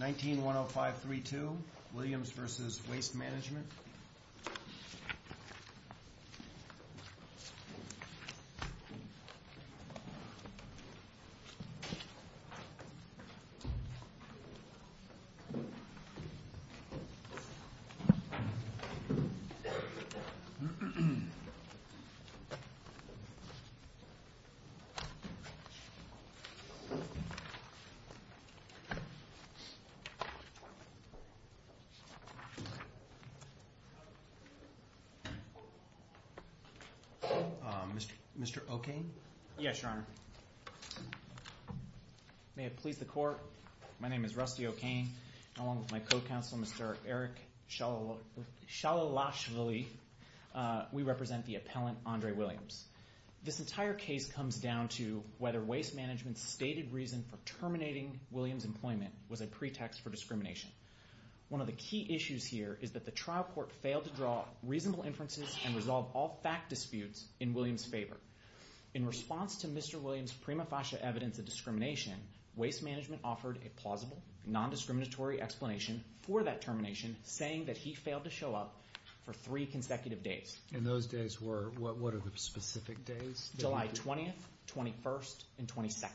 19-10532, Williams v. Waste Management Mr. O'Kane? Yes, Your Honor. May it please the Court, my name is Rusty O'Kane. Along with my co-counsel, Mr. Eric Shalalashvili, we represent the appellant, Andre Williams. This entire case comes down to whether Waste Management's stated reason for terminating Williams' employment was a pretext for discrimination. One of the key issues here is that the trial court failed to draw reasonable inferences and resolve all fact disputes in Williams' favor. In response to Mr. Williams' prima facie evidence of discrimination, Waste Management offered a plausible, non-discriminatory explanation for that termination, saying that he failed to show up for three consecutive days. And those days were, what are the specific days? July 20th, 21st, and 22nd.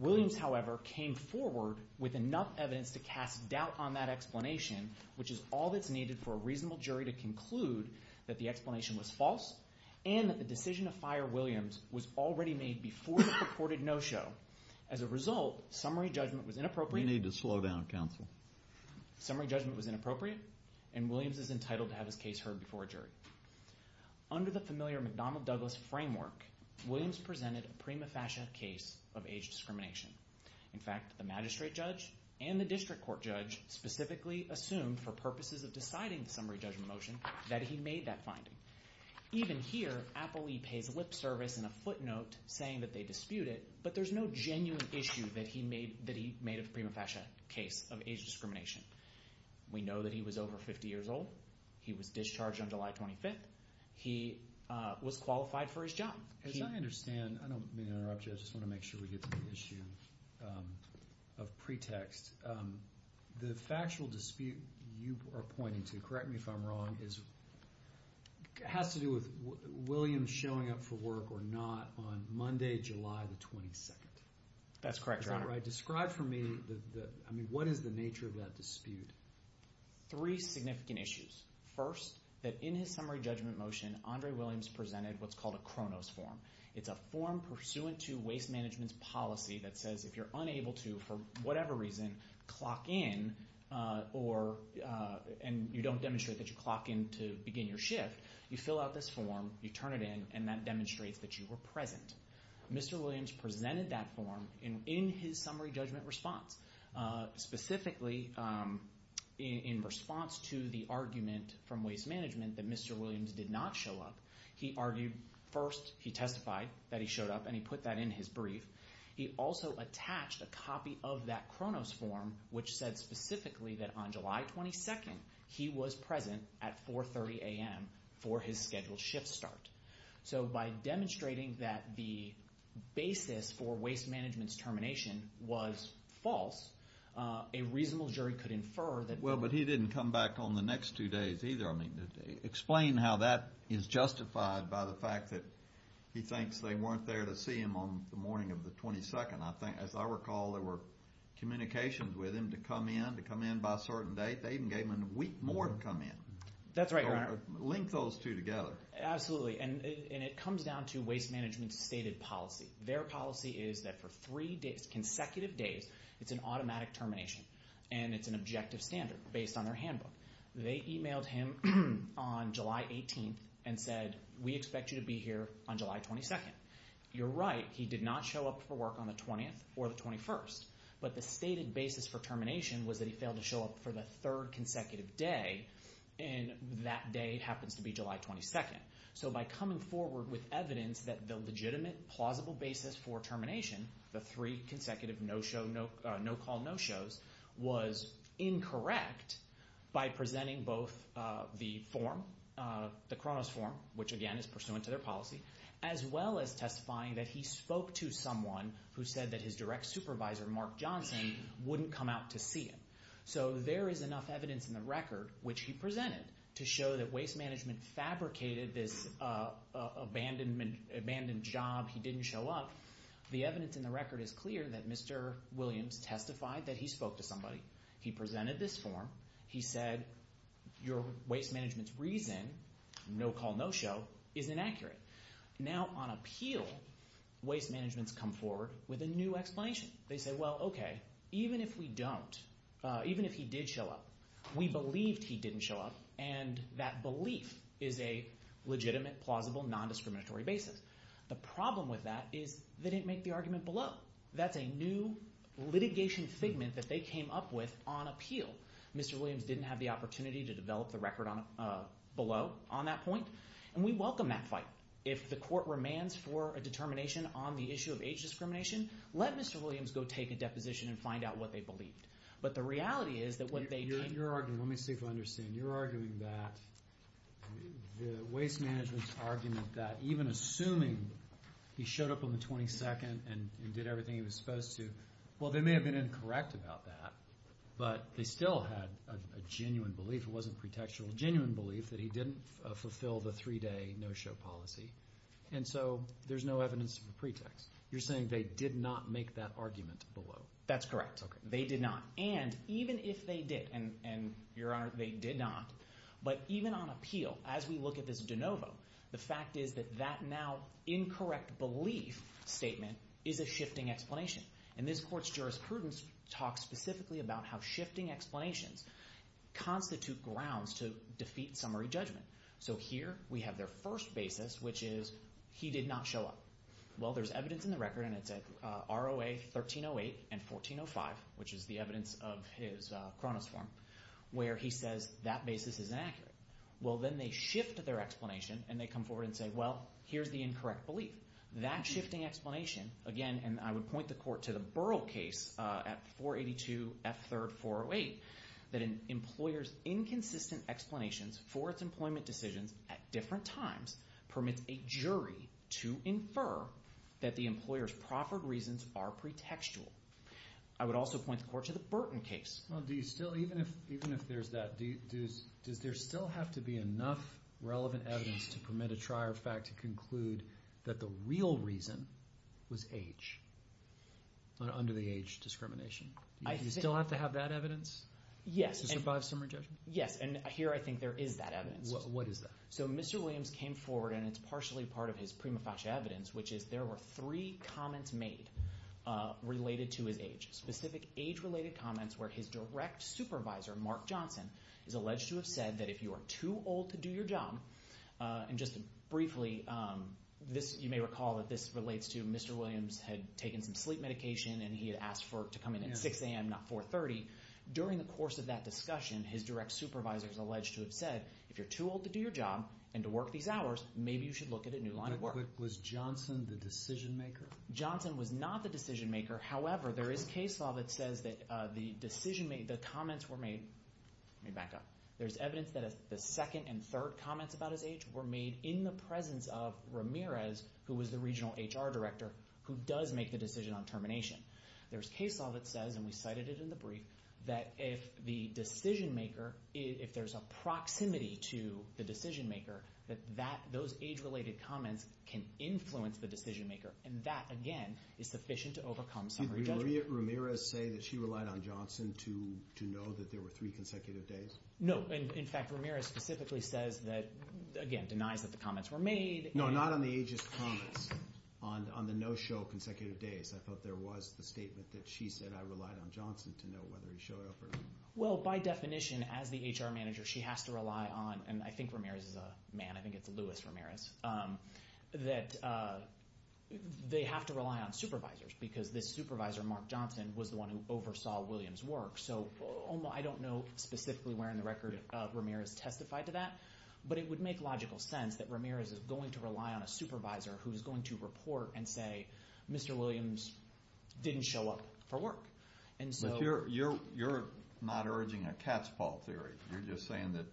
Williams, however, came forward with enough evidence to cast doubt on that explanation, which is all that's needed for a reasonable jury to conclude that the explanation was false and that the decision to fire Williams was already made before the purported no-show. As a result, summary judgment was inappropriate. We need to slow down, counsel. Summary judgment was inappropriate, and Williams is entitled to have his case heard before a jury. Under the familiar McDonnell-Douglas framework, Williams presented a prima facie case of age discrimination. In fact, the magistrate judge and the district court judge specifically assumed for purposes of deciding the summary judgment motion that he made that finding. Even here, Appleby pays lip service and a footnote saying that they dispute it, but there's no genuine issue that he made a prima facie case of age discrimination. We know that he was over 50 years old. He was discharged on July 25th. He was qualified for his job. As I understand, I don't mean to interrupt you, I just want to make sure we get to the issue of pretext. The factual dispute you are pointing to, correct me if I'm wrong, has to do with Williams showing up for work or not on Monday, July the 22nd. That's correct, Your Honor. Is that right? Describe for me, I mean, what is the nature of that dispute? Three significant issues. First, that in his summary judgment motion, Andre Williams presented what's called a Kronos form. It's a form pursuant to waste management's policy that says if you're unable to, for whatever reason, clock in, and you don't demonstrate that you clock in to begin your shift, you fill out this form, you turn it in, and that demonstrates that you were present. Mr. Williams presented that form in his summary judgment response. Specifically, in response to the argument from waste management that Mr. Williams did not show up, he argued first, he testified that he showed up, and he put that in his brief. He also attached a copy of that Kronos form which said specifically that on July 22nd he was present at 4.30 a.m. for his scheduled shift start. So by demonstrating that the basis for waste management's termination was false, a reasonable jury could infer that... Well, but he didn't come back on the next two days either. I mean, explain how that is justified by the fact that he thinks they weren't there to see him on the morning of the 22nd. I think, as I recall, there were communications with him to come in, to come in by a certain date. They even gave him a week more to come in. That's right, Your Honor. Link those two together. Absolutely, and it comes down to waste management's stated policy. Their policy is that for three consecutive days, it's an automatic termination, and it's an objective standard based on their handbook. They emailed him on July 18th and said, we expect you to be here on July 22nd. You're right, he did not show up for work on the 20th or the 21st, but the stated basis for termination was that he failed to show up for the third consecutive day, and that day happens to be July 22nd. So by coming forward with evidence that the legitimate, plausible basis for termination, the three consecutive no-call no-shows, was incorrect by presenting both the form, the Kronos form, which again is pursuant to their policy, as well as testifying that he spoke to someone who said that his direct supervisor, Mark Johnson, wouldn't come out to see him. So there is enough evidence in the record, which he presented, to show that waste management fabricated this abandoned job, he didn't show up. The evidence in the record is clear that Mr. Williams testified that he spoke to somebody. He presented this form. He said your waste management's reason, no-call no-show, is inaccurate. Now on appeal, waste management's come forward with a new explanation. They say, well, okay, even if we don't, even if he did show up, we believed he didn't show up, and that belief is a legitimate, plausible, non-discriminatory basis. The problem with that is they didn't make the argument below. That's a new litigation figment that they came up with on appeal. Mr. Williams didn't have the opportunity to develop the record below on that point, and we welcome that fight. If the court remands for a determination on the issue of age discrimination, let Mr. Williams go take a deposition and find out what they believed. But the reality is that what they did— Let me see if I understand. You're arguing that the waste management's argument that even assuming he showed up on the 22nd and did everything he was supposed to, well, they may have been incorrect about that, but they still had a genuine belief, it wasn't pretextual, a genuine belief that he didn't fulfill the three-day no-show policy, and so there's no evidence of a pretext. You're saying they did not make that argument below. That's correct. Okay. They did not, and even if they did, and, Your Honor, they did not, but even on appeal, as we look at this de novo, the fact is that that now incorrect belief statement is a shifting explanation. And this court's jurisprudence talks specifically about how shifting explanations constitute grounds to defeat summary judgment. So here we have their first basis, which is he did not show up. Well, there's evidence in the record, and it's at ROA 1308 and 1405, which is the evidence of his Cronus form, where he says that basis is inaccurate. Well, then they shift their explanation, and they come forward and say, well, here's the incorrect belief. That shifting explanation, again, and I would point the court to the Burrell case at 482 F3-408, that an employer's inconsistent explanations for its employment decisions at different times permits a jury to infer that the employer's proffered reasons are pretextual. I would also point the court to the Burton case. Well, do you still, even if there's that, does there still have to be enough relevant evidence to permit a trier of fact to conclude that the real reason was age under the age discrimination? Do you still have to have that evidence to survive summary judgment? Yes, and here I think there is that evidence. What is that? So Mr. Williams came forward, and it's partially part of his prima facie evidence, which is there were three comments made related to his age, specific age-related comments where his direct supervisor, Mark Johnson, is alleged to have said that if you are too old to do your job, and just briefly, you may recall that this relates to Mr. Williams had taken some sleep medication and he had asked to come in at 6 a.m., not 4.30. During the course of that discussion, his direct supervisor is alleged to have said, if you're too old to do your job and to work these hours, maybe you should look at a new line of work. Was Johnson the decision-maker? Johnson was not the decision-maker. However, there is case law that says that the comments were made, let me back up, there's evidence that the second and third comments about his age were made in the presence of Ramirez, who was the regional HR director, who does make the decision on termination. There's case law that says, and we cited it in the brief, that if the decision-maker, if there's a proximity to the decision-maker, that those age-related comments can influence the decision-maker, and that, again, is sufficient to overcome summary judgment. Did Maria Ramirez say that she relied on Johnson to know that there were three consecutive days? No. In fact, Ramirez specifically says that, again, denies that the comments were made. No, not on the ageist comments, on the no-show consecutive days. I thought there was the statement that she said, I relied on Johnson to know whether he showed up or not. Well, by definition, as the HR manager, she has to rely on, and I think Ramirez is a man, I think it's Louis Ramirez, that they have to rely on supervisors because this supervisor, Mark Johnson, was the one who oversaw Williams' work. So I don't know specifically where in the record Ramirez testified to that, but it would make logical sense that Ramirez is going to rely on a supervisor who's going to report and say, Mr. Williams didn't show up for work. But you're not urging a cat's paw theory. You're just saying that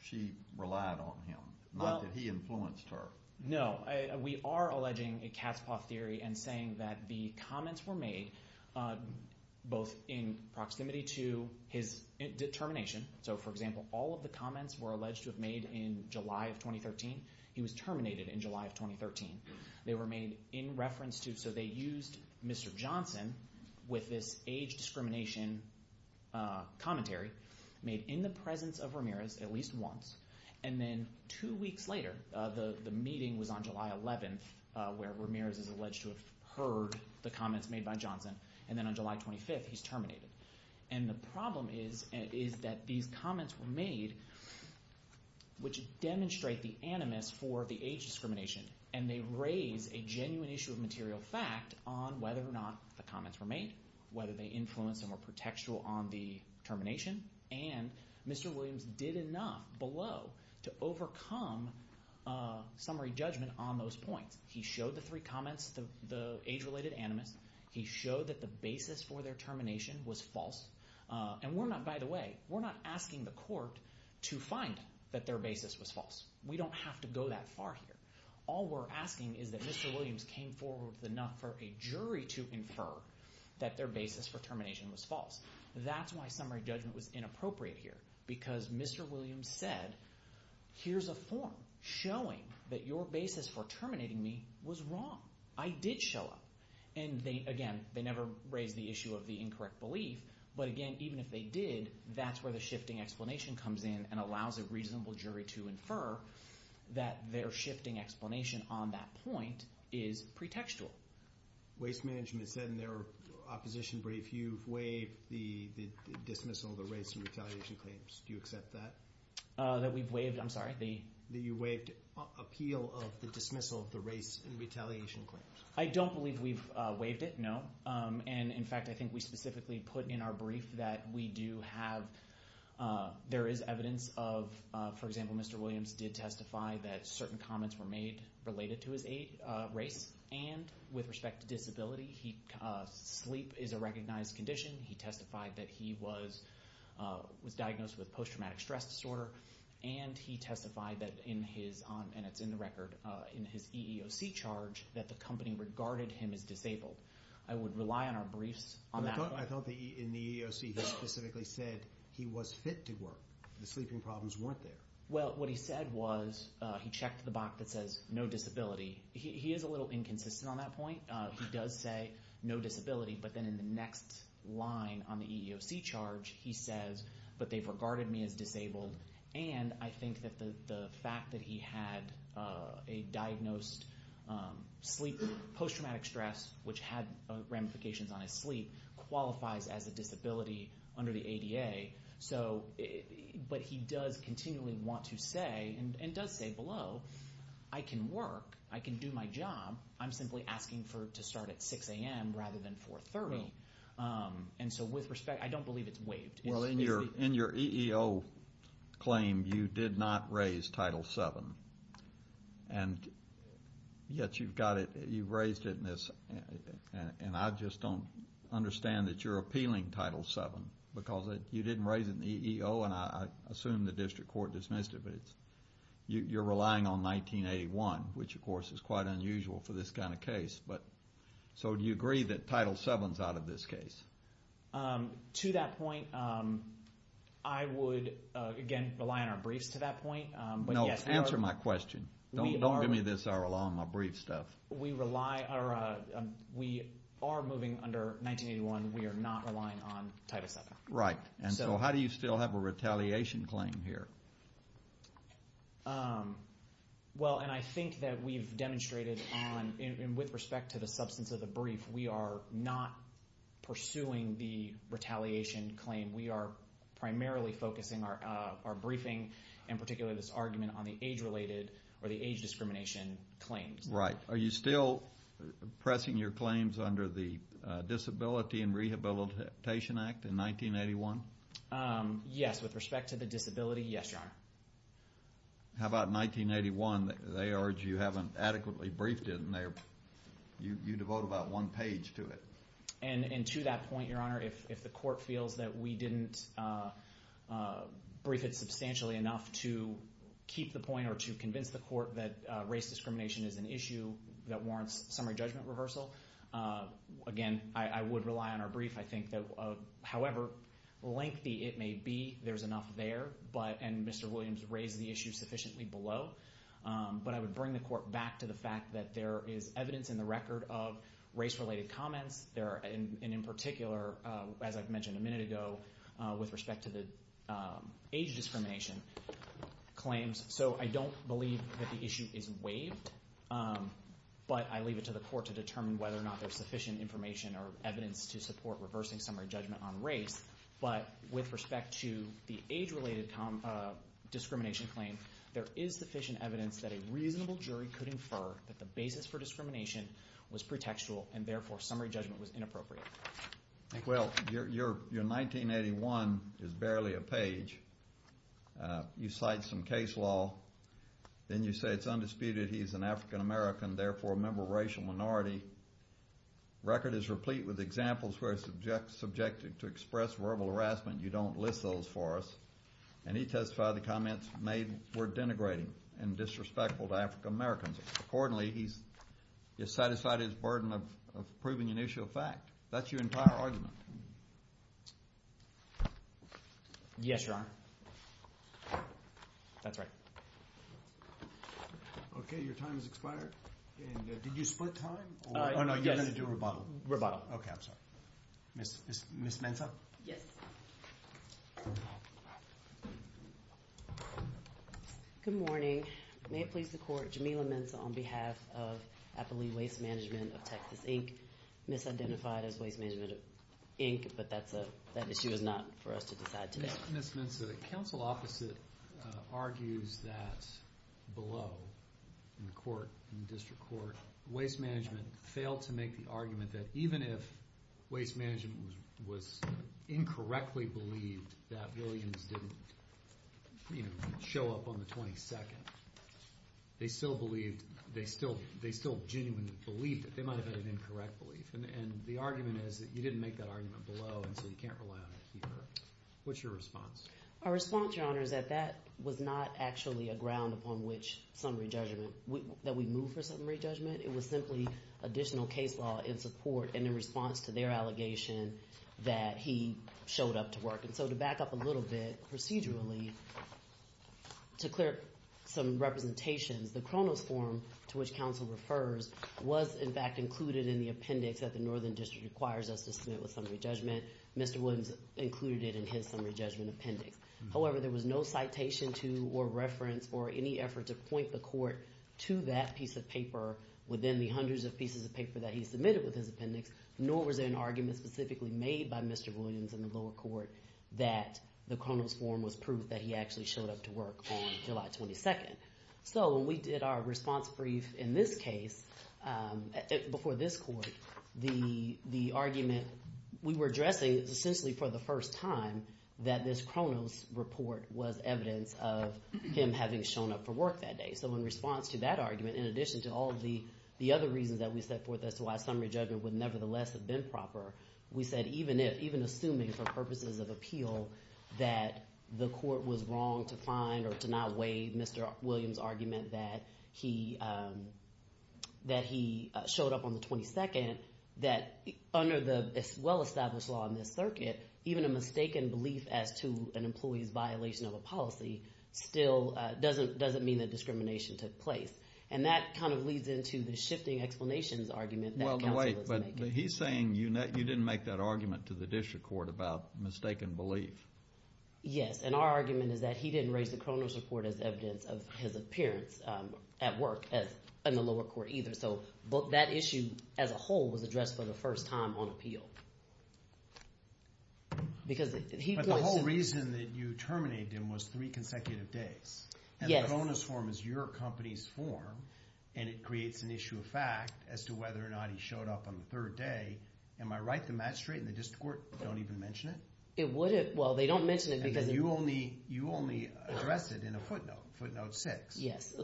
she relied on him, not that he influenced her. No. We are alleging a cat's paw theory and saying that the comments were made both in proximity to his determination. So, for example, all of the comments were alleged to have made in July of 2013. He was terminated in July of 2013. They were made in reference to, so they used Mr. Johnson with this age discrimination commentary, made in the presence of Ramirez at least once, and then two weeks later, the meeting was on July 11th where Ramirez is alleged to have heard the comments made by Johnson, and then on July 25th he's terminated. And the problem is that these comments were made which demonstrate the animus for the age discrimination, and they raise a genuine issue of material fact on whether or not the comments were made, whether they influenced and were pretextual on the termination, and Mr. Williams did enough below to overcome summary judgment on those points. He showed the three comments, the age-related animus. He showed that the basis for their termination was false. And we're not, by the way, we're not asking the court to find that their basis was false. We don't have to go that far here. All we're asking is that Mr. Williams came forward with enough for a jury to infer that their basis for termination was false. That's why summary judgment was inappropriate here, because Mr. Williams said, here's a form showing that your basis for terminating me was wrong. I did show up. And again, they never raised the issue of the incorrect belief, but again, even if they did, that's where the shifting explanation comes in and allows a reasonable jury to infer that their shifting explanation on that point is pretextual. Waste management said in their opposition brief you've waived the dismissal of the race and retaliation claims. Do you accept that? That we've waived, I'm sorry? That you waived appeal of the dismissal of the race and retaliation claims. I don't believe we've waived it, no. And, in fact, I think we specifically put in our brief that we do have, there is evidence of, for example, Mr. Williams did testify that certain comments were made related to his race and with respect to disability. Sleep is a recognized condition. He testified that he was diagnosed with post-traumatic stress disorder, and he testified that in his, and it's in the record, in his EEOC charge, that the company regarded him as disabled. I would rely on our briefs on that. I thought in the EEOC he specifically said he was fit to work. The sleeping problems weren't there. Well, what he said was, he checked the box that says no disability. He is a little inconsistent on that point. He does say no disability, but then in the next line on the EEOC charge he says, but they've regarded me as disabled, and I think that the fact that he had a diagnosed sleep post-traumatic stress, which had ramifications on his sleep, qualifies as a disability under the ADA. But he does continually want to say, and does say below, I can work. I can do my job. I'm simply asking to start at 6 a.m. rather than 4.30. And so with respect, I don't believe it's waived. Well, in your EEO claim you did not raise Title VII, and yet you've got it, you've raised it, and I just don't understand that you're appealing Title VII because you didn't raise it in the EEO, and I assume the district court dismissed it, but you're relying on 1981, which, of course, is quite unusual for this kind of case. So do you agree that Title VII is out of this case? To that point, I would, again, rely on our briefs to that point. No, answer my question. Don't give me this, our alarm, my brief stuff. We are moving under 1981. We are not relying on Title VII. Right. And so how do you still have a retaliation claim here? Well, and I think that we've demonstrated on, and with respect to the substance of the brief, we are not pursuing the retaliation claim. We are primarily focusing our briefing, and particularly this argument, on the age-related or the age discrimination claims. Right. Are you still pressing your claims under the Disability and Rehabilitation Act in 1981? Yes. With respect to the disability, yes, Your Honor. How about 1981? They urge you haven't adequately briefed it, and you devote about one page to it. And to that point, Your Honor, if the court feels that we didn't brief it substantially enough to keep the point or to convince the court that race discrimination is an issue that warrants summary judgment reversal, again, I would rely on our brief. I think that however lengthy it may be, there's enough there, and Mr. Williams raised the issue sufficiently below. But I would bring the court back to the fact that there is evidence in the record of race-related comments. And in particular, as I've mentioned a minute ago, with respect to the age discrimination claims. So I don't believe that the issue is waived, but I leave it to the court to determine whether or not there's sufficient information or evidence to support reversing summary judgment on race. But with respect to the age-related discrimination claim, there is sufficient evidence that a reasonable jury could infer that the basis for discrimination was pretextual, and therefore summary judgment was inappropriate. Well, your 1981 is barely a page. You cite some case law, then you say it's undisputed he's an African-American, therefore a member of a racial minority. The record is replete with examples where it's subjected to express verbal harassment. You don't list those for us. And he testified the comments made were denigrating and disrespectful to African-Americans. Accordingly, he's satisfied his burden of proving an issue of fact. That's your entire argument. Yes, Your Honor. That's right. Okay, your time has expired. And did you split time? Oh, no, you're going to do rebuttal. Rebuttal. Okay, I'm sorry. Ms. Mensah? Yes. Good morning. May it please the court, Jamila Mensah on behalf of Appalooie Waste Management of Texas, Inc., who was misidentified as Waste Management, Inc., but that issue is not for us to decide today. Ms. Mensah, the counsel opposite argues that below in the court, in the district court, Waste Management failed to make the argument that even if Waste Management was incorrectly believed that Williams didn't show up on the 22nd, they still genuinely believed that they might have had an incorrect belief. And the argument is that you didn't make that argument below, and so you can't rely on it here. What's your response? Our response, Your Honor, is that that was not actually a ground upon which summary judgment, that we moved for summary judgment. It was simply additional case law in support and in response to their allegation that he showed up to work. And so to back up a little bit procedurally, to clear up some representations, the Kronos form to which counsel refers was, in fact, included in the appendix that the Northern District requires us to submit with summary judgment. Mr. Williams included it in his summary judgment appendix. However, there was no citation to or reference or any effort to point the court to that piece of paper within the hundreds of pieces of paper that he submitted with his appendix, nor was there an argument specifically made by Mr. Williams in the lower court that the Kronos form was proof that he actually showed up to work on July 22nd. So when we did our response brief in this case before this court, the argument we were addressing is essentially for the first time that this Kronos report was evidence of him having shown up for work that day. So in response to that argument, in addition to all of the other reasons that we set forth, as to why summary judgment would nevertheless have been proper, we said even assuming for purposes of appeal that the court was wrong to find or to not waive Mr. Williams' argument that he showed up on the 22nd, that under the well-established law in this circuit, even a mistaken belief as to an employee's violation of a policy still doesn't mean that discrimination took place. And that kind of leads into the shifting explanations argument that counsel is making. But he's saying you didn't make that argument to the district court about mistaken belief. Yes, and our argument is that he didn't raise the Kronos report as evidence of his appearance at work in the lower court either. So that issue as a whole was addressed for the first time on appeal. But the whole reason that you terminated him was three consecutive days. Yes. And the Kronos form is your company's form, and it creates an issue of fact as to whether or not he showed up on the third day. Am I right to match straight and the district court don't even mention it? It wouldn't. Well, they don't mention it because— Because you only addressed it in a footnote, footnote six. Yes.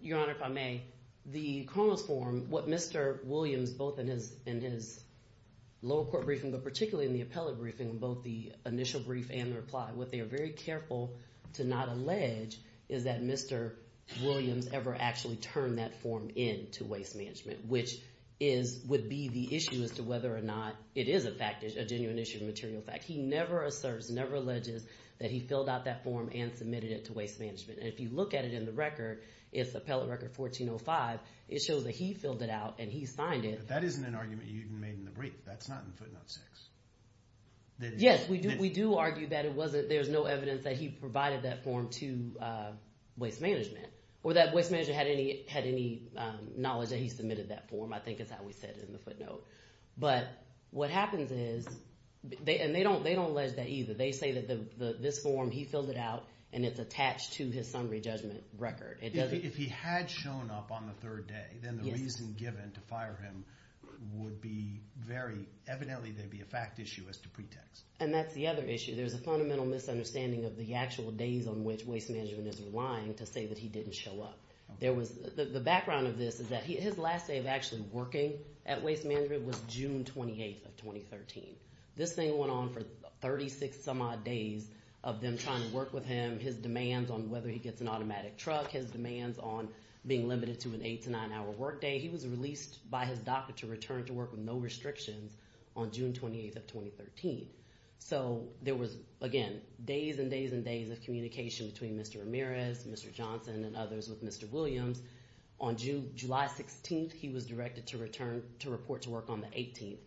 Your Honor, if I may, the Kronos form, what Mr. Williams, both in his lower court briefing, but particularly in the appellate briefing, both the initial brief and the reply, what they are very careful to not allege is that Mr. Williams ever actually turned that form in to Waste Management, which would be the issue as to whether or not it is a genuine issue of material fact. He never asserts, never alleges that he filled out that form and submitted it to Waste Management. And if you look at it in the record, it's appellate record 1405. It shows that he filled it out and he signed it. But that isn't an argument you even made in the brief. That's not in footnote six. Yes, we do argue that there's no evidence that he provided that form to Waste Management or that Waste Management had any knowledge that he submitted that form. I think it's how we said it in the footnote. But what happens is—and they don't allege that either. They say that this form, he filled it out, and it's attached to his summary judgment record. If he had shown up on the third day, then the reason given to fire him would be very— And that's the other issue. There's a fundamental misunderstanding of the actual days on which Waste Management is relying to say that he didn't show up. The background of this is that his last day of actually working at Waste Management was June 28th of 2013. This thing went on for 36-some-odd days of them trying to work with him, his demands on whether he gets an automatic truck, his demands on being limited to an eight- to nine-hour workday. He was released by his doctor to return to work with no restrictions on June 28th of 2013. So there was, again, days and days and days of communication between Mr. Ramirez, Mr. Johnson, and others with Mr. Williams. On July 16th, he was directed to report to work on the 18th.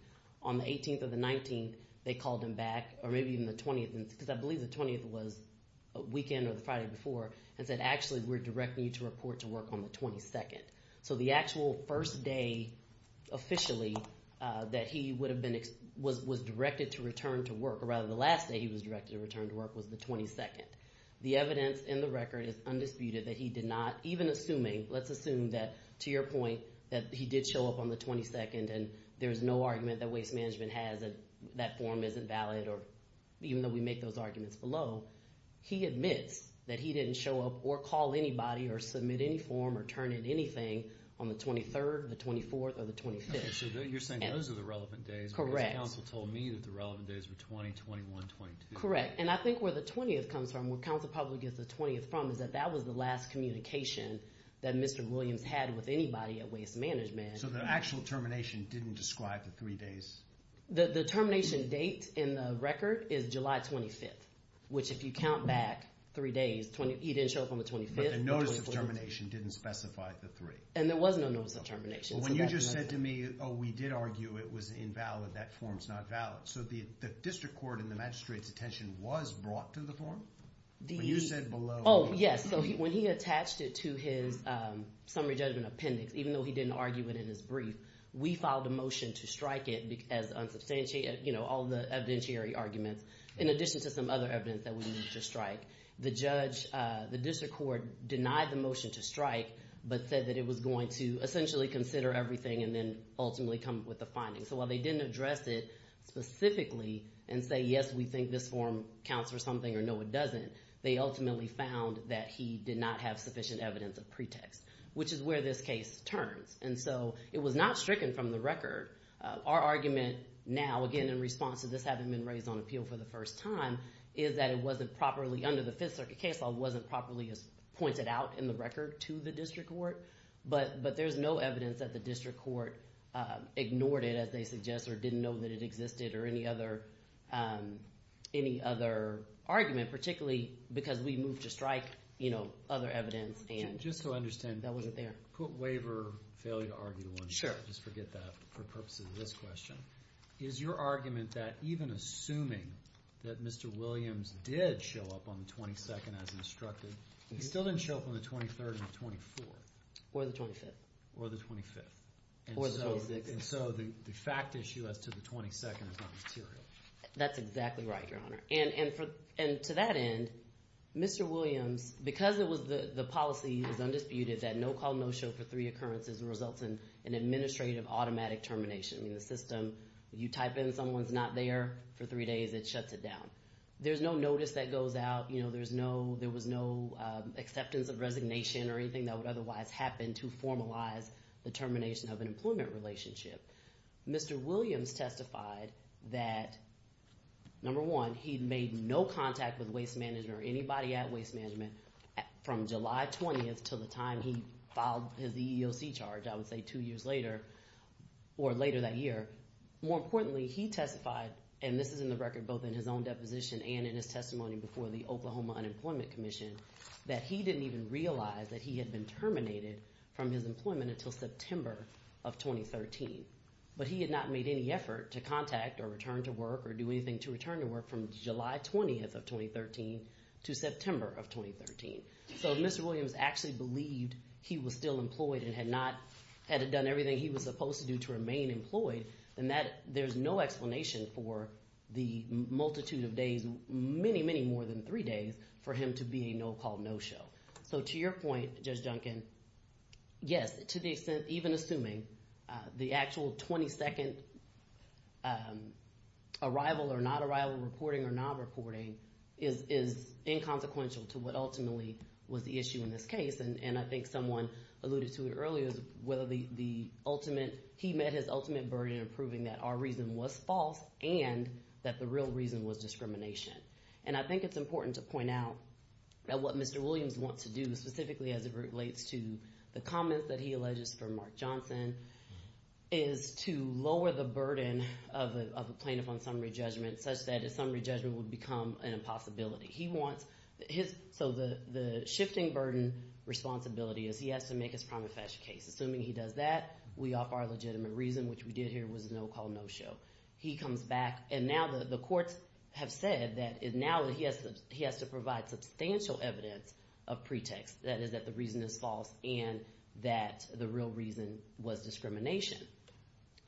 On the 18th or the 19th, they called him back, or maybe even the 20th, because I believe the 20th was a weekend or the Friday before, and said, actually, we're directing you to report to work on the 22nd. So the actual first day officially that he was directed to return to work, or rather the last day he was directed to return to work, was the 22nd. The evidence in the record is undisputed that he did not, even assuming, let's assume that, to your point, that he did show up on the 22nd and there's no argument that Waste Management has that that form isn't valid, or even though we make those arguments below, he admits that he didn't show up or call anybody or submit any form or turn in anything on the 23rd, the 24th, or the 25th. Okay, so you're saying those are the relevant days. Correct. Because counsel told me that the relevant days were 20, 21, 22. Correct. And I think where the 20th comes from, where counsel probably gets the 20th from, is that that was the last communication that Mr. Williams had with anybody at Waste Management. So the actual termination didn't describe the three days? The termination date in the record is July 25th, which if you count back three days, he didn't show up on the 25th. But the notice of termination didn't specify the three. And there was no notice of termination. When you just said to me, oh, we did argue it was invalid, that form's not valid. So the district court and the magistrate's attention was brought to the form? When you said below... Oh, yes. So when he attached it to his summary judgment appendix, even though he didn't argue it in his brief, we filed a motion to strike it as unsubstantiated, you know, all the evidentiary arguments, in addition to some other evidence that we needed to strike. The judge, the district court, denied the motion to strike, but said that it was going to essentially consider everything and then ultimately come up with the findings. So while they didn't address it specifically and say, yes, we think this form counts for something or no, it doesn't, they ultimately found that he did not have sufficient evidence of pretext, which is where this case turns. And so it was not stricken from the record. Our argument now, again, in response to this having been raised on appeal for the first time, is that it wasn't properly, under the Fifth Circuit case law, it wasn't properly pointed out in the record to the district court. But there's no evidence that the district court ignored it, as they suggest, or didn't know that it existed or any other argument, particularly because we moved to strike, you know, other evidence. Just to understand. That wasn't there. Put waiver, failure to argue, just to forget that for purposes of this question. Is your argument that even assuming that Mr. Williams did show up on the 22nd as instructed, he still didn't show up on the 23rd or the 24th? Or the 25th. Or the 25th. Or the 26th. And so the fact issue as to the 22nd is not material. That's exactly right, Your Honor. And to that end, Mr. Williams, because the policy is undisputed, that no call, no show for three occurrences results in an administrative automatic termination. The system, you type in someone's not there for three days, it shuts it down. There's no notice that goes out. There was no acceptance of resignation or anything that would otherwise happen to formalize the termination of an employment relationship. Mr. Williams testified that, number one, he made no contact with waste management or anybody at waste management from July 20th to the time he filed his EEOC charge, I would say two years later, or later that year. More importantly, he testified, and this is in the record both in his own deposition and in his testimony before the Oklahoma Unemployment Commission, that he didn't even realize that he had been terminated from his employment until September of 2013. But he had not made any effort to contact or return to work or do anything to return to work from July 20th of 2013 to September of 2013. So if Mr. Williams actually believed he was still employed and had not done everything he was supposed to do to remain employed, then there's no explanation for the multitude of days, many, many more than three days, for him to be a no-call no-show. So to your point, Judge Duncan, yes, to the extent, even assuming, the actual 22nd arrival or not arrival, reporting or not reporting, is inconsequential to what ultimately was the issue in this case. And I think someone alluded to it earlier, whether the ultimate – assuming that our reason was false and that the real reason was discrimination. And I think it's important to point out that what Mr. Williams wants to do, specifically as it relates to the comments that he alleges from Mark Johnson, is to lower the burden of a plaintiff on summary judgment such that a summary judgment would become an impossibility. He wants – so the shifting burden responsibility is he has to make his prima facie case. Assuming he does that, we offer our legitimate reason, which we did here was a no-call no-show. He comes back, and now the courts have said that now he has to provide substantial evidence of pretext, that is that the reason is false and that the real reason was discrimination.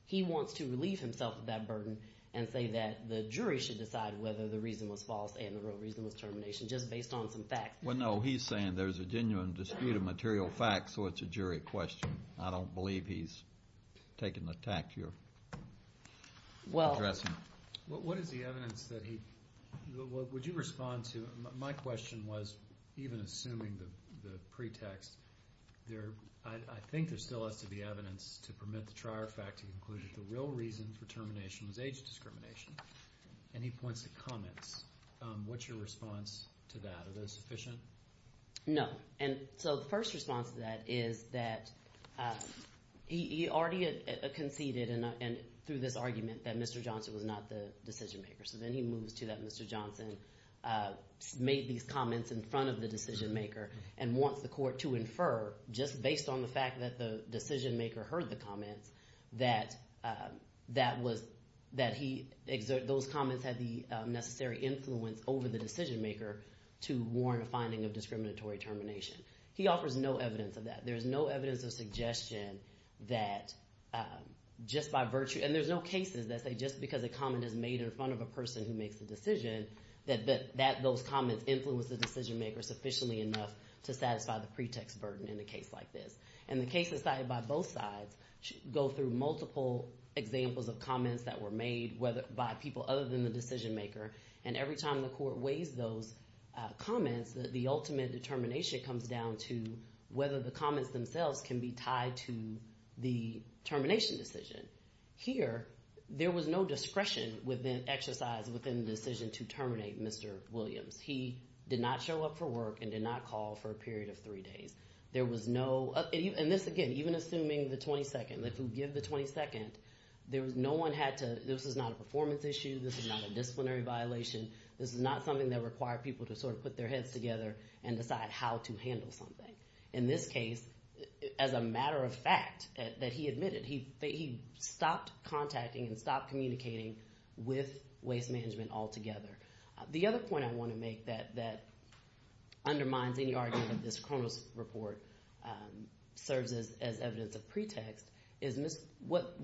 He wants to relieve himself of that burden and say that the jury should decide whether the reason was false and the real reason was termination just based on some facts. Well, no, he's saying there's a genuine dispute of material facts, so it's a jury question. I don't believe he's taking the tact you're addressing. What is the evidence that he – would you respond to – my question was, even assuming the pretext, I think there still has to be evidence to permit the trier fact to conclude that the real reason for termination was age discrimination, and he points to comments. What's your response to that? Is that sufficient? No, and so the first response to that is that he already conceded through this argument that Mr. Johnson was not the decision-maker, so then he moves to that Mr. Johnson made these comments in front of the decision-maker and wants the court to infer just based on the fact that the decision-maker heard the comments that he – those comments had the necessary influence over the decision-maker to warrant a finding of discriminatory termination. He offers no evidence of that. There's no evidence of suggestion that just by virtue – and there's no cases that say just because a comment is made in front of a person who makes the decision that those comments influence the decision-maker sufficiently enough to satisfy the pretext burden in a case like this. And the cases cited by both sides go through multiple examples of comments that were made by people other than the decision-maker, and every time the court weighs those comments, the ultimate determination comes down to whether the comments themselves can be tied to the termination decision. Here, there was no discretion within – exercise within the decision to terminate Mr. Williams. He did not show up for work and did not call for a period of three days. There was no – and this, again, even assuming the 22nd, if you give the 22nd, there was no one had to – this is not a performance issue. This is not a disciplinary violation. This is not something that required people to sort of put their heads together and decide how to handle something. In this case, as a matter of fact that he admitted, he stopped contacting and stopped communicating with waste management altogether. The other point I want to make that undermines any argument that this Cronos report serves as evidence of pretext is what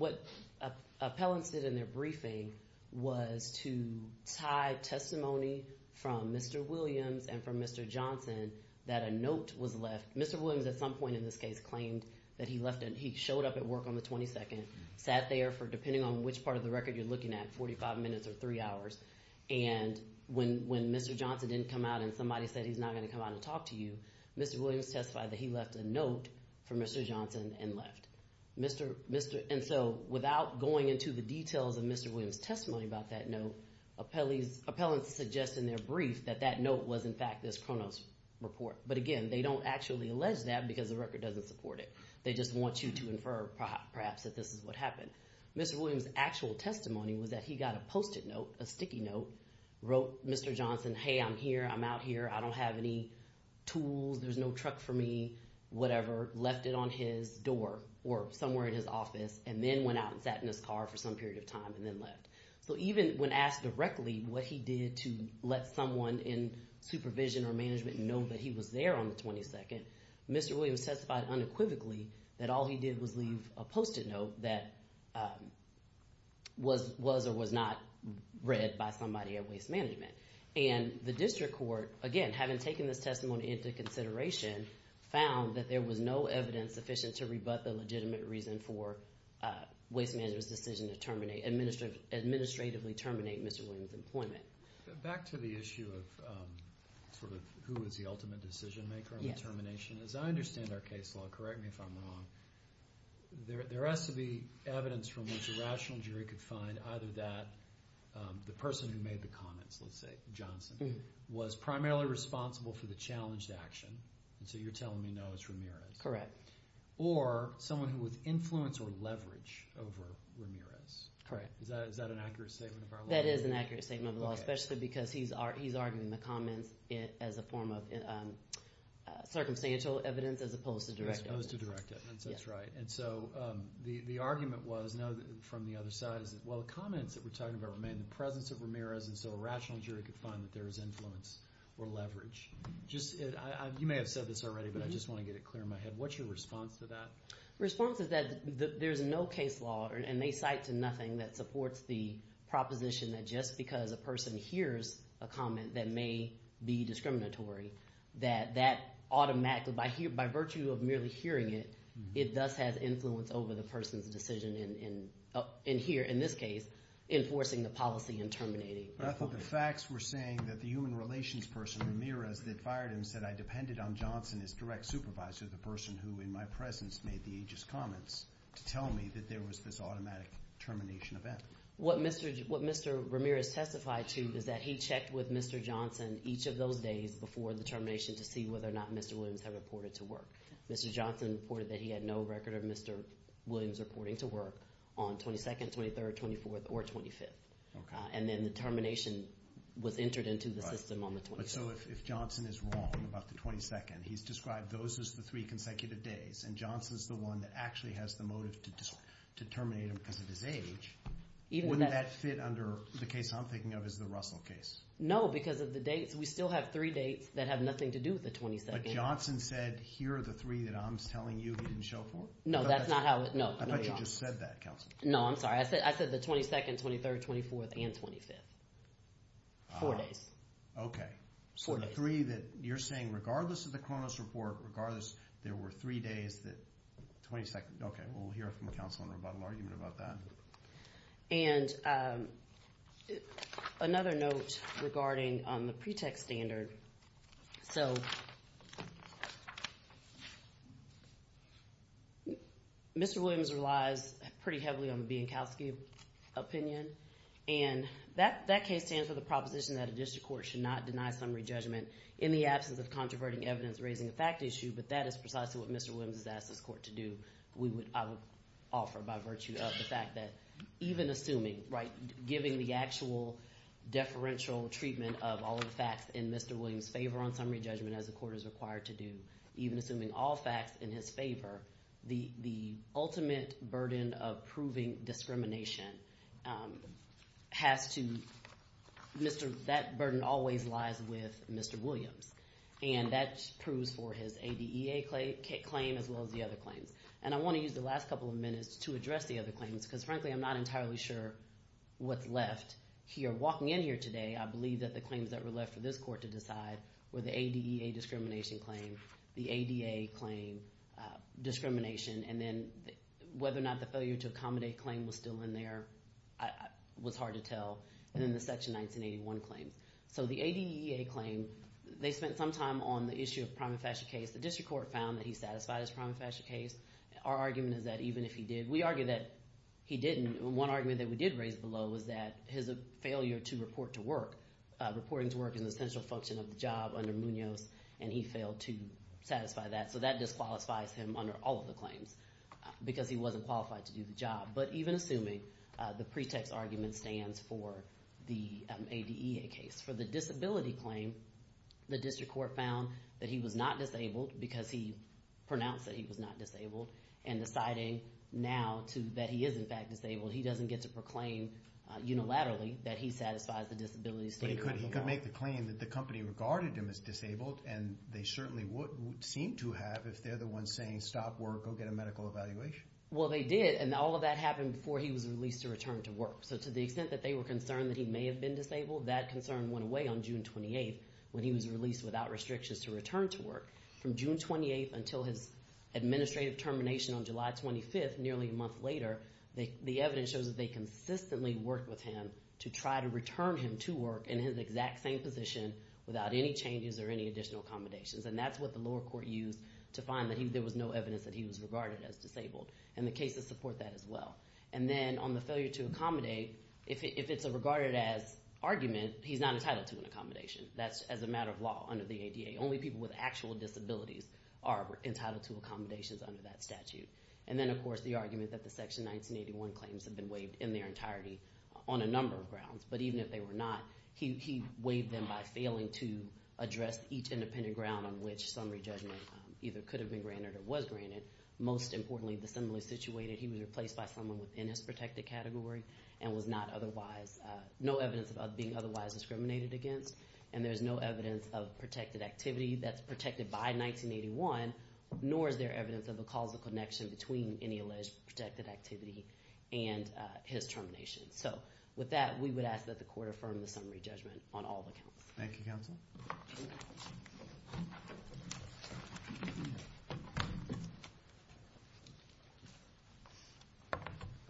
appellants did in their briefing was to tie testimony from Mr. Williams and from Mr. Johnson that a note was left. Mr. Williams at some point in this case claimed that he left and he showed up at work on the 22nd, sat there for – depending on which part of the record you're looking at, 45 minutes or three hours, and when Mr. Johnson didn't come out and somebody said he's not going to come out and talk to you, Mr. Williams testified that he left a note for Mr. Johnson and left. And so without going into the details of Mr. Williams' testimony about that note, appellants suggest in their brief that that note was in fact this Cronos report. But again, they don't actually allege that because the record doesn't support it. They just want you to infer perhaps that this is what happened. Mr. Williams' actual testimony was that he got a Post-it note, a sticky note, wrote Mr. Johnson, hey, I'm here, I'm out here, I don't have any tools, there's no truck for me, whatever, left it on his door or somewhere in his office and then went out and sat in his car for some period of time and then left. So even when asked directly what he did to let someone in supervision or management know that he was there on the 22nd, Mr. Williams testified unequivocally that all he did was leave a Post-it note that was or was not read by somebody at Waste Management. And the district court, again, having taken this testimony into consideration, found that there was no evidence sufficient to rebut the legitimate reason for Waste Management's decision to terminate, administratively terminate Mr. Williams' employment. Back to the issue of sort of who is the ultimate decision maker in the termination, as I understand our case law, correct me if I'm wrong, there has to be evidence from which a rational jury could find either that the person who made the comments, let's say Johnson, was primarily responsible for the challenged action, and so you're telling me no, it's Ramirez. Correct. Or someone who was influence or leverage over Ramirez. Correct. Is that an accurate statement of our law? That is an accurate statement of the law, especially because he's arguing the comments as a form of circumstantial evidence as opposed to direct evidence. As opposed to direct evidence, that's right. And so the argument was from the other side is that, well, the comments that we're talking about remain in the presence of Ramirez, and so a rational jury could find that there was influence or leverage. You may have said this already, but I just want to get it clear in my head. What's your response to that? The response is that there's no case law, and they cite to nothing that supports the proposition that just because a person hears a comment that may be discriminatory, that that automatically, by virtue of merely hearing it, it does have influence over the person's decision in here, in this case, enforcing the policy and terminating the point. But I thought the facts were saying that the human relations person, Ramirez, that fired him said, I depended on Johnson as direct supervisor, the person who in my presence made the aegis comments, to tell me that there was this automatic termination event. What Mr. Ramirez testified to is that he checked with Mr. Johnson each of those days before the termination to see whether or not Mr. Williams had reported to work. Mr. Johnson reported that he had no record of Mr. Williams reporting to work on 22nd, 23rd, 24th, or 25th. And then the termination was entered into the system on the 22nd. So if Johnson is wrong about the 22nd, he's described those as the three consecutive days, and Johnson's the one that actually has the motive to terminate him because of his age, wouldn't that fit under the case I'm thinking of as the Russell case? No, because of the dates. We still have three dates that have nothing to do with the 22nd. But Johnson said, here are the three that I'm telling you he didn't show for? No, that's not how it – no. I thought you just said that, counsel. No, I'm sorry. I said the 22nd, 23rd, 24th, and 25th. Four days. Okay. Four days. So the three that you're saying, regardless of the Cronus report, regardless – there were three days that – 22nd, okay. We'll hear it from counsel in a rebuttal argument about that. And another note regarding the pretext standard. So Mr. Williams relies pretty heavily on the Bienkowski opinion. And that case stands for the proposition that a district court should not deny summary judgment in the absence of controverting evidence raising a fact issue, but that is precisely what Mr. Williams has asked his court to do, I would offer, by virtue of the fact that even assuming – giving the actual deferential treatment of all of the facts in Mr. Williams' favor on summary judgment, as the court is required to do, even assuming all facts in his favor, the ultimate burden of proving discrimination has to – that burden always lies with Mr. Williams. And that proves for his ADEA claim as well as the other claims. And I want to use the last couple of minutes to address the other claims because, frankly, I'm not entirely sure what's left here. Walking in here today, I believe that the claims that were left for this court to decide were the ADEA discrimination claim, the ADA claim, discrimination, and then whether or not the failure to accommodate claim was still in there was hard to tell, and then the Section 1981 claims. So the ADEA claim, they spent some time on the issue of prima facie case. The district court found that he satisfied his prima facie case. Our argument is that even if he did – we argue that he didn't. One argument that we did raise below was that his failure to report to work – reporting to work is an essential function of the job under Munoz, and he failed to satisfy that. So that disqualifies him under all of the claims because he wasn't qualified to do the job. But even assuming the pretext argument stands for the ADEA case. For the disability claim, the district court found that he was not disabled because he pronounced that he was not disabled and deciding now that he is, in fact, disabled, he doesn't get to proclaim unilaterally that he satisfies the disability statement. But he could make the claim that the company regarded him as disabled, and they certainly would seem to have if they're the ones saying stop work, go get a medical evaluation. Well, they did, and all of that happened before he was released to return to work. So to the extent that they were concerned that he may have been disabled, that concern went away on June 28th when he was released without restrictions to return to work. From June 28th until his administrative termination on July 25th, nearly a month later, the evidence shows that they consistently worked with him to try to return him to work in his exact same position without any changes or any additional accommodations, and that's what the lower court used to find that there was no evidence that he was regarded as disabled, and the cases support that as well. And then on the failure to accommodate, if it's a regarded as argument, he's not entitled to an accommodation. That's as a matter of law under the ADEA. Only people with actual disabilities are entitled to accommodations under that statute. And then, of course, the argument that the Section 1981 claims have been waived in their entirety on a number of grounds, but even if they were not, he waived them by failing to address each independent ground on which summary judgment either could have been granted or was granted. Most importantly, dissimilarly situated, he was replaced by someone within his protected category and was not otherwise – no evidence of being otherwise discriminated against, and there's no evidence of protected activity that's protected by 1981, nor is there evidence of a causal connection between any alleged protected activity and his termination. So with that, we would ask that the court affirm the summary judgment on all accounts. Thank you, counsel.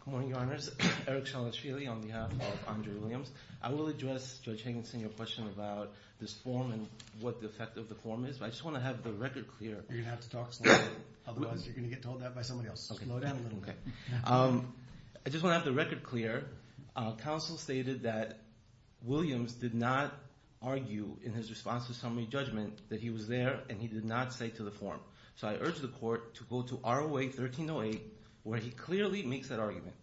Good morning, Your Honors. Eric Chalishvili on behalf of Andrew Williams. I will address Judge Hankinson your question about this form and what the effect of the form is, but I just want to have the record clear. You're going to have to talk slowly, otherwise you're going to get told that by somebody else. Slow down a little bit. I just want to have the record clear. Counsel stated that Williams did not argue in his response to summary judgment that he was there and he did not cite to the form. So I urge the court to go to ROA 1308 where he clearly makes that argument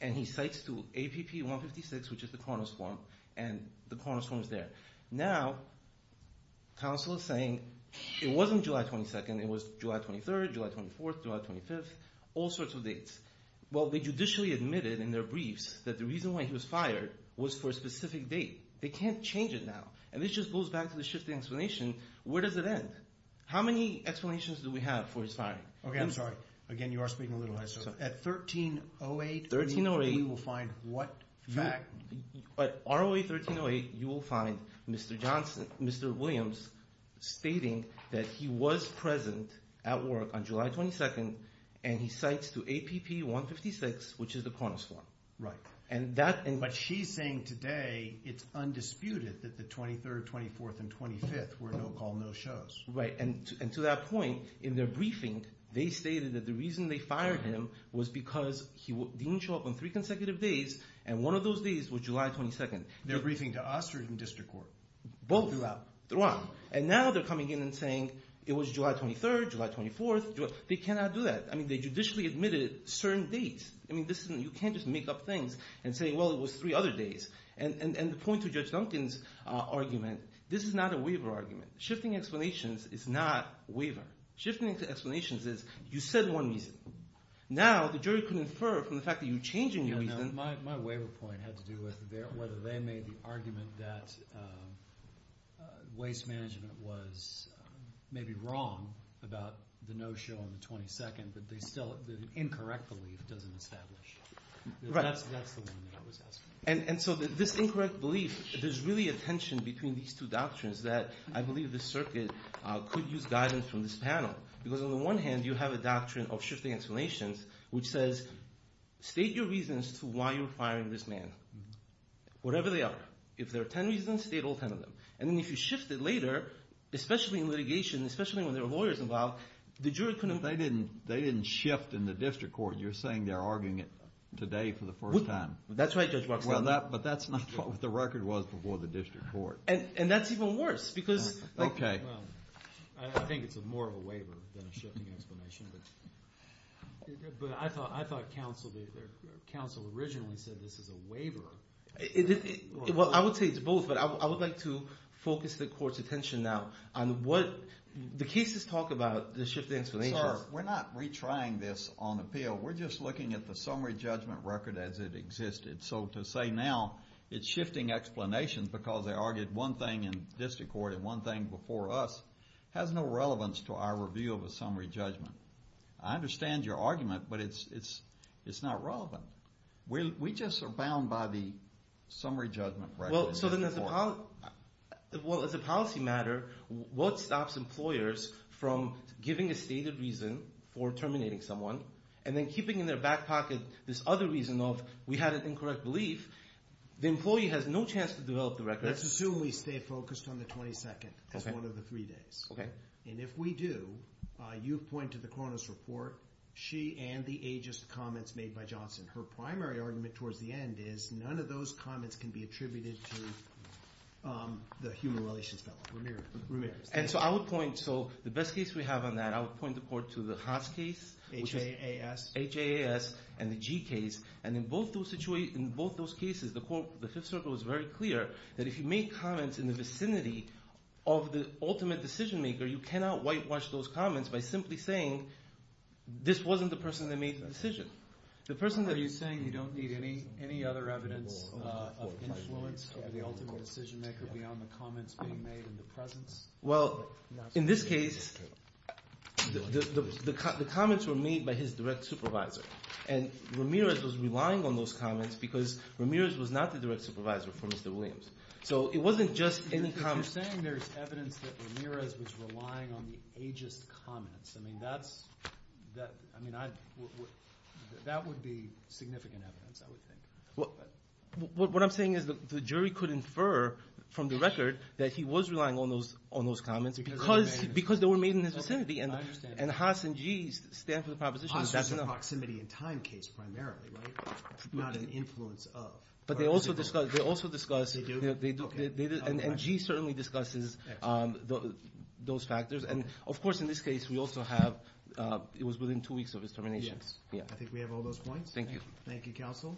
and he cites to APP 156, which is the Kronos form, and the Kronos form is there. Now counsel is saying it wasn't July 22nd. It was July 23rd, July 24th, July 25th, all sorts of dates. Well, they judicially admitted in their briefs that the reason why he was fired was for a specific date. They can't change it now, and this just goes back to the shifting explanation. Where does it end? How many explanations do we have for his firing? Okay, I'm sorry. Again, you are speaking a little louder. At 1308, you will find what fact? At ROA 1308, you will find Mr. Williams stating that he was present at work on July 22nd and he cites to APP 156, which is the Kronos form. Right. But she's saying today it's undisputed that the 23rd, 24th, and 25th were no-call, no-shows. Right, and to that point, in their briefing, they stated that the reason they fired him was because he didn't show up on three consecutive days, and one of those days was July 22nd. Their briefing to Austrian District Court. Both throughout. Throughout. And now they're coming in and saying it was July 23rd, July 24th. They cannot do that. I mean, they judicially admitted certain dates. I mean, you can't just make up things and say, well, it was three other days. And the point to Judge Duncan's argument, this is not a waiver argument. Shifting explanations is not waiver. Shifting explanations is you said one reason. Now the jury can infer from the fact that you're changing your reason. My waiver point had to do with whether they made the argument that waste management was maybe wrong about the no-show on the 22nd, but the incorrect belief doesn't establish. Right. That's the one that I was asking. And so this incorrect belief, there's really a tension between these two doctrines that I believe this circuit could use guidance from this panel. Because on the one hand, you have a doctrine of shifting explanations, which says state your reasons to why you're firing this man, whatever they are. If there are ten reasons, state all ten of them. And then if you shift it later, especially in litigation, especially when there are lawyers involved, the jury couldn't – They didn't shift in the district court. You're saying they're arguing it today for the first time. That's right, Judge Boxnell. But that's not what the record was before the district court. And that's even worse because – Okay. Well, I think it's more of a waiver than a shifting explanation, but I thought counsel originally said this is a waiver. Well, I would say it's both, but I would like to focus the court's attention now on what – the cases talk about the shifting explanations. Sir, we're not retrying this on appeal. We're just looking at the summary judgment record as it existed. So to say now it's shifting explanations because they argued one thing in district court and one thing before us has no relevance to our review of a summary judgment. I understand your argument, but it's not relevant. We just are bound by the summary judgment record. So then as a – well, as a policy matter, what stops employers from giving a stated reason for terminating someone and then keeping in their back pocket this other reason of we had an incorrect belief? The employee has no chance to develop the record. Let's assume we stay focused on the 22nd as one of the three days. Okay. And if we do, you've pointed to the Kronos report, she and the ageist comments made by Johnson. Her primary argument towards the end is none of those comments can be attributed to the human relations fellow, Ramirez. And so I would point – so the best case we have on that, I would point the court to the Haas case. H-A-A-S. H-A-A-S and the G case. And in both those cases, the Fifth Circle is very clear that if you make comments in the vicinity of the ultimate decision maker, you cannot whitewash those comments by simply saying this wasn't the person that made the decision. Are you saying you don't need any other evidence of influence of the ultimate decision maker beyond the comments being made in the presence? Well, in this case, the comments were made by his direct supervisor. And Ramirez was relying on those comments because Ramirez was not the direct supervisor for Mr. Williams. So it wasn't just any comment. You're saying there's evidence that Ramirez was relying on the ageist comments. I mean, that's – I mean, that would be significant evidence, I would think. What I'm saying is the jury could infer from the record that he was relying on those comments because they were made in his vicinity. I understand. And Haas and G stand for the proposition. Haas is a proximity in time case primarily, right? Not an influence of. But they also discuss – and G certainly discusses those factors. And, of course, in this case, we also have – it was within two weeks of his termination. Yes. I think we have all those points. Thank you. Thank you, counsel.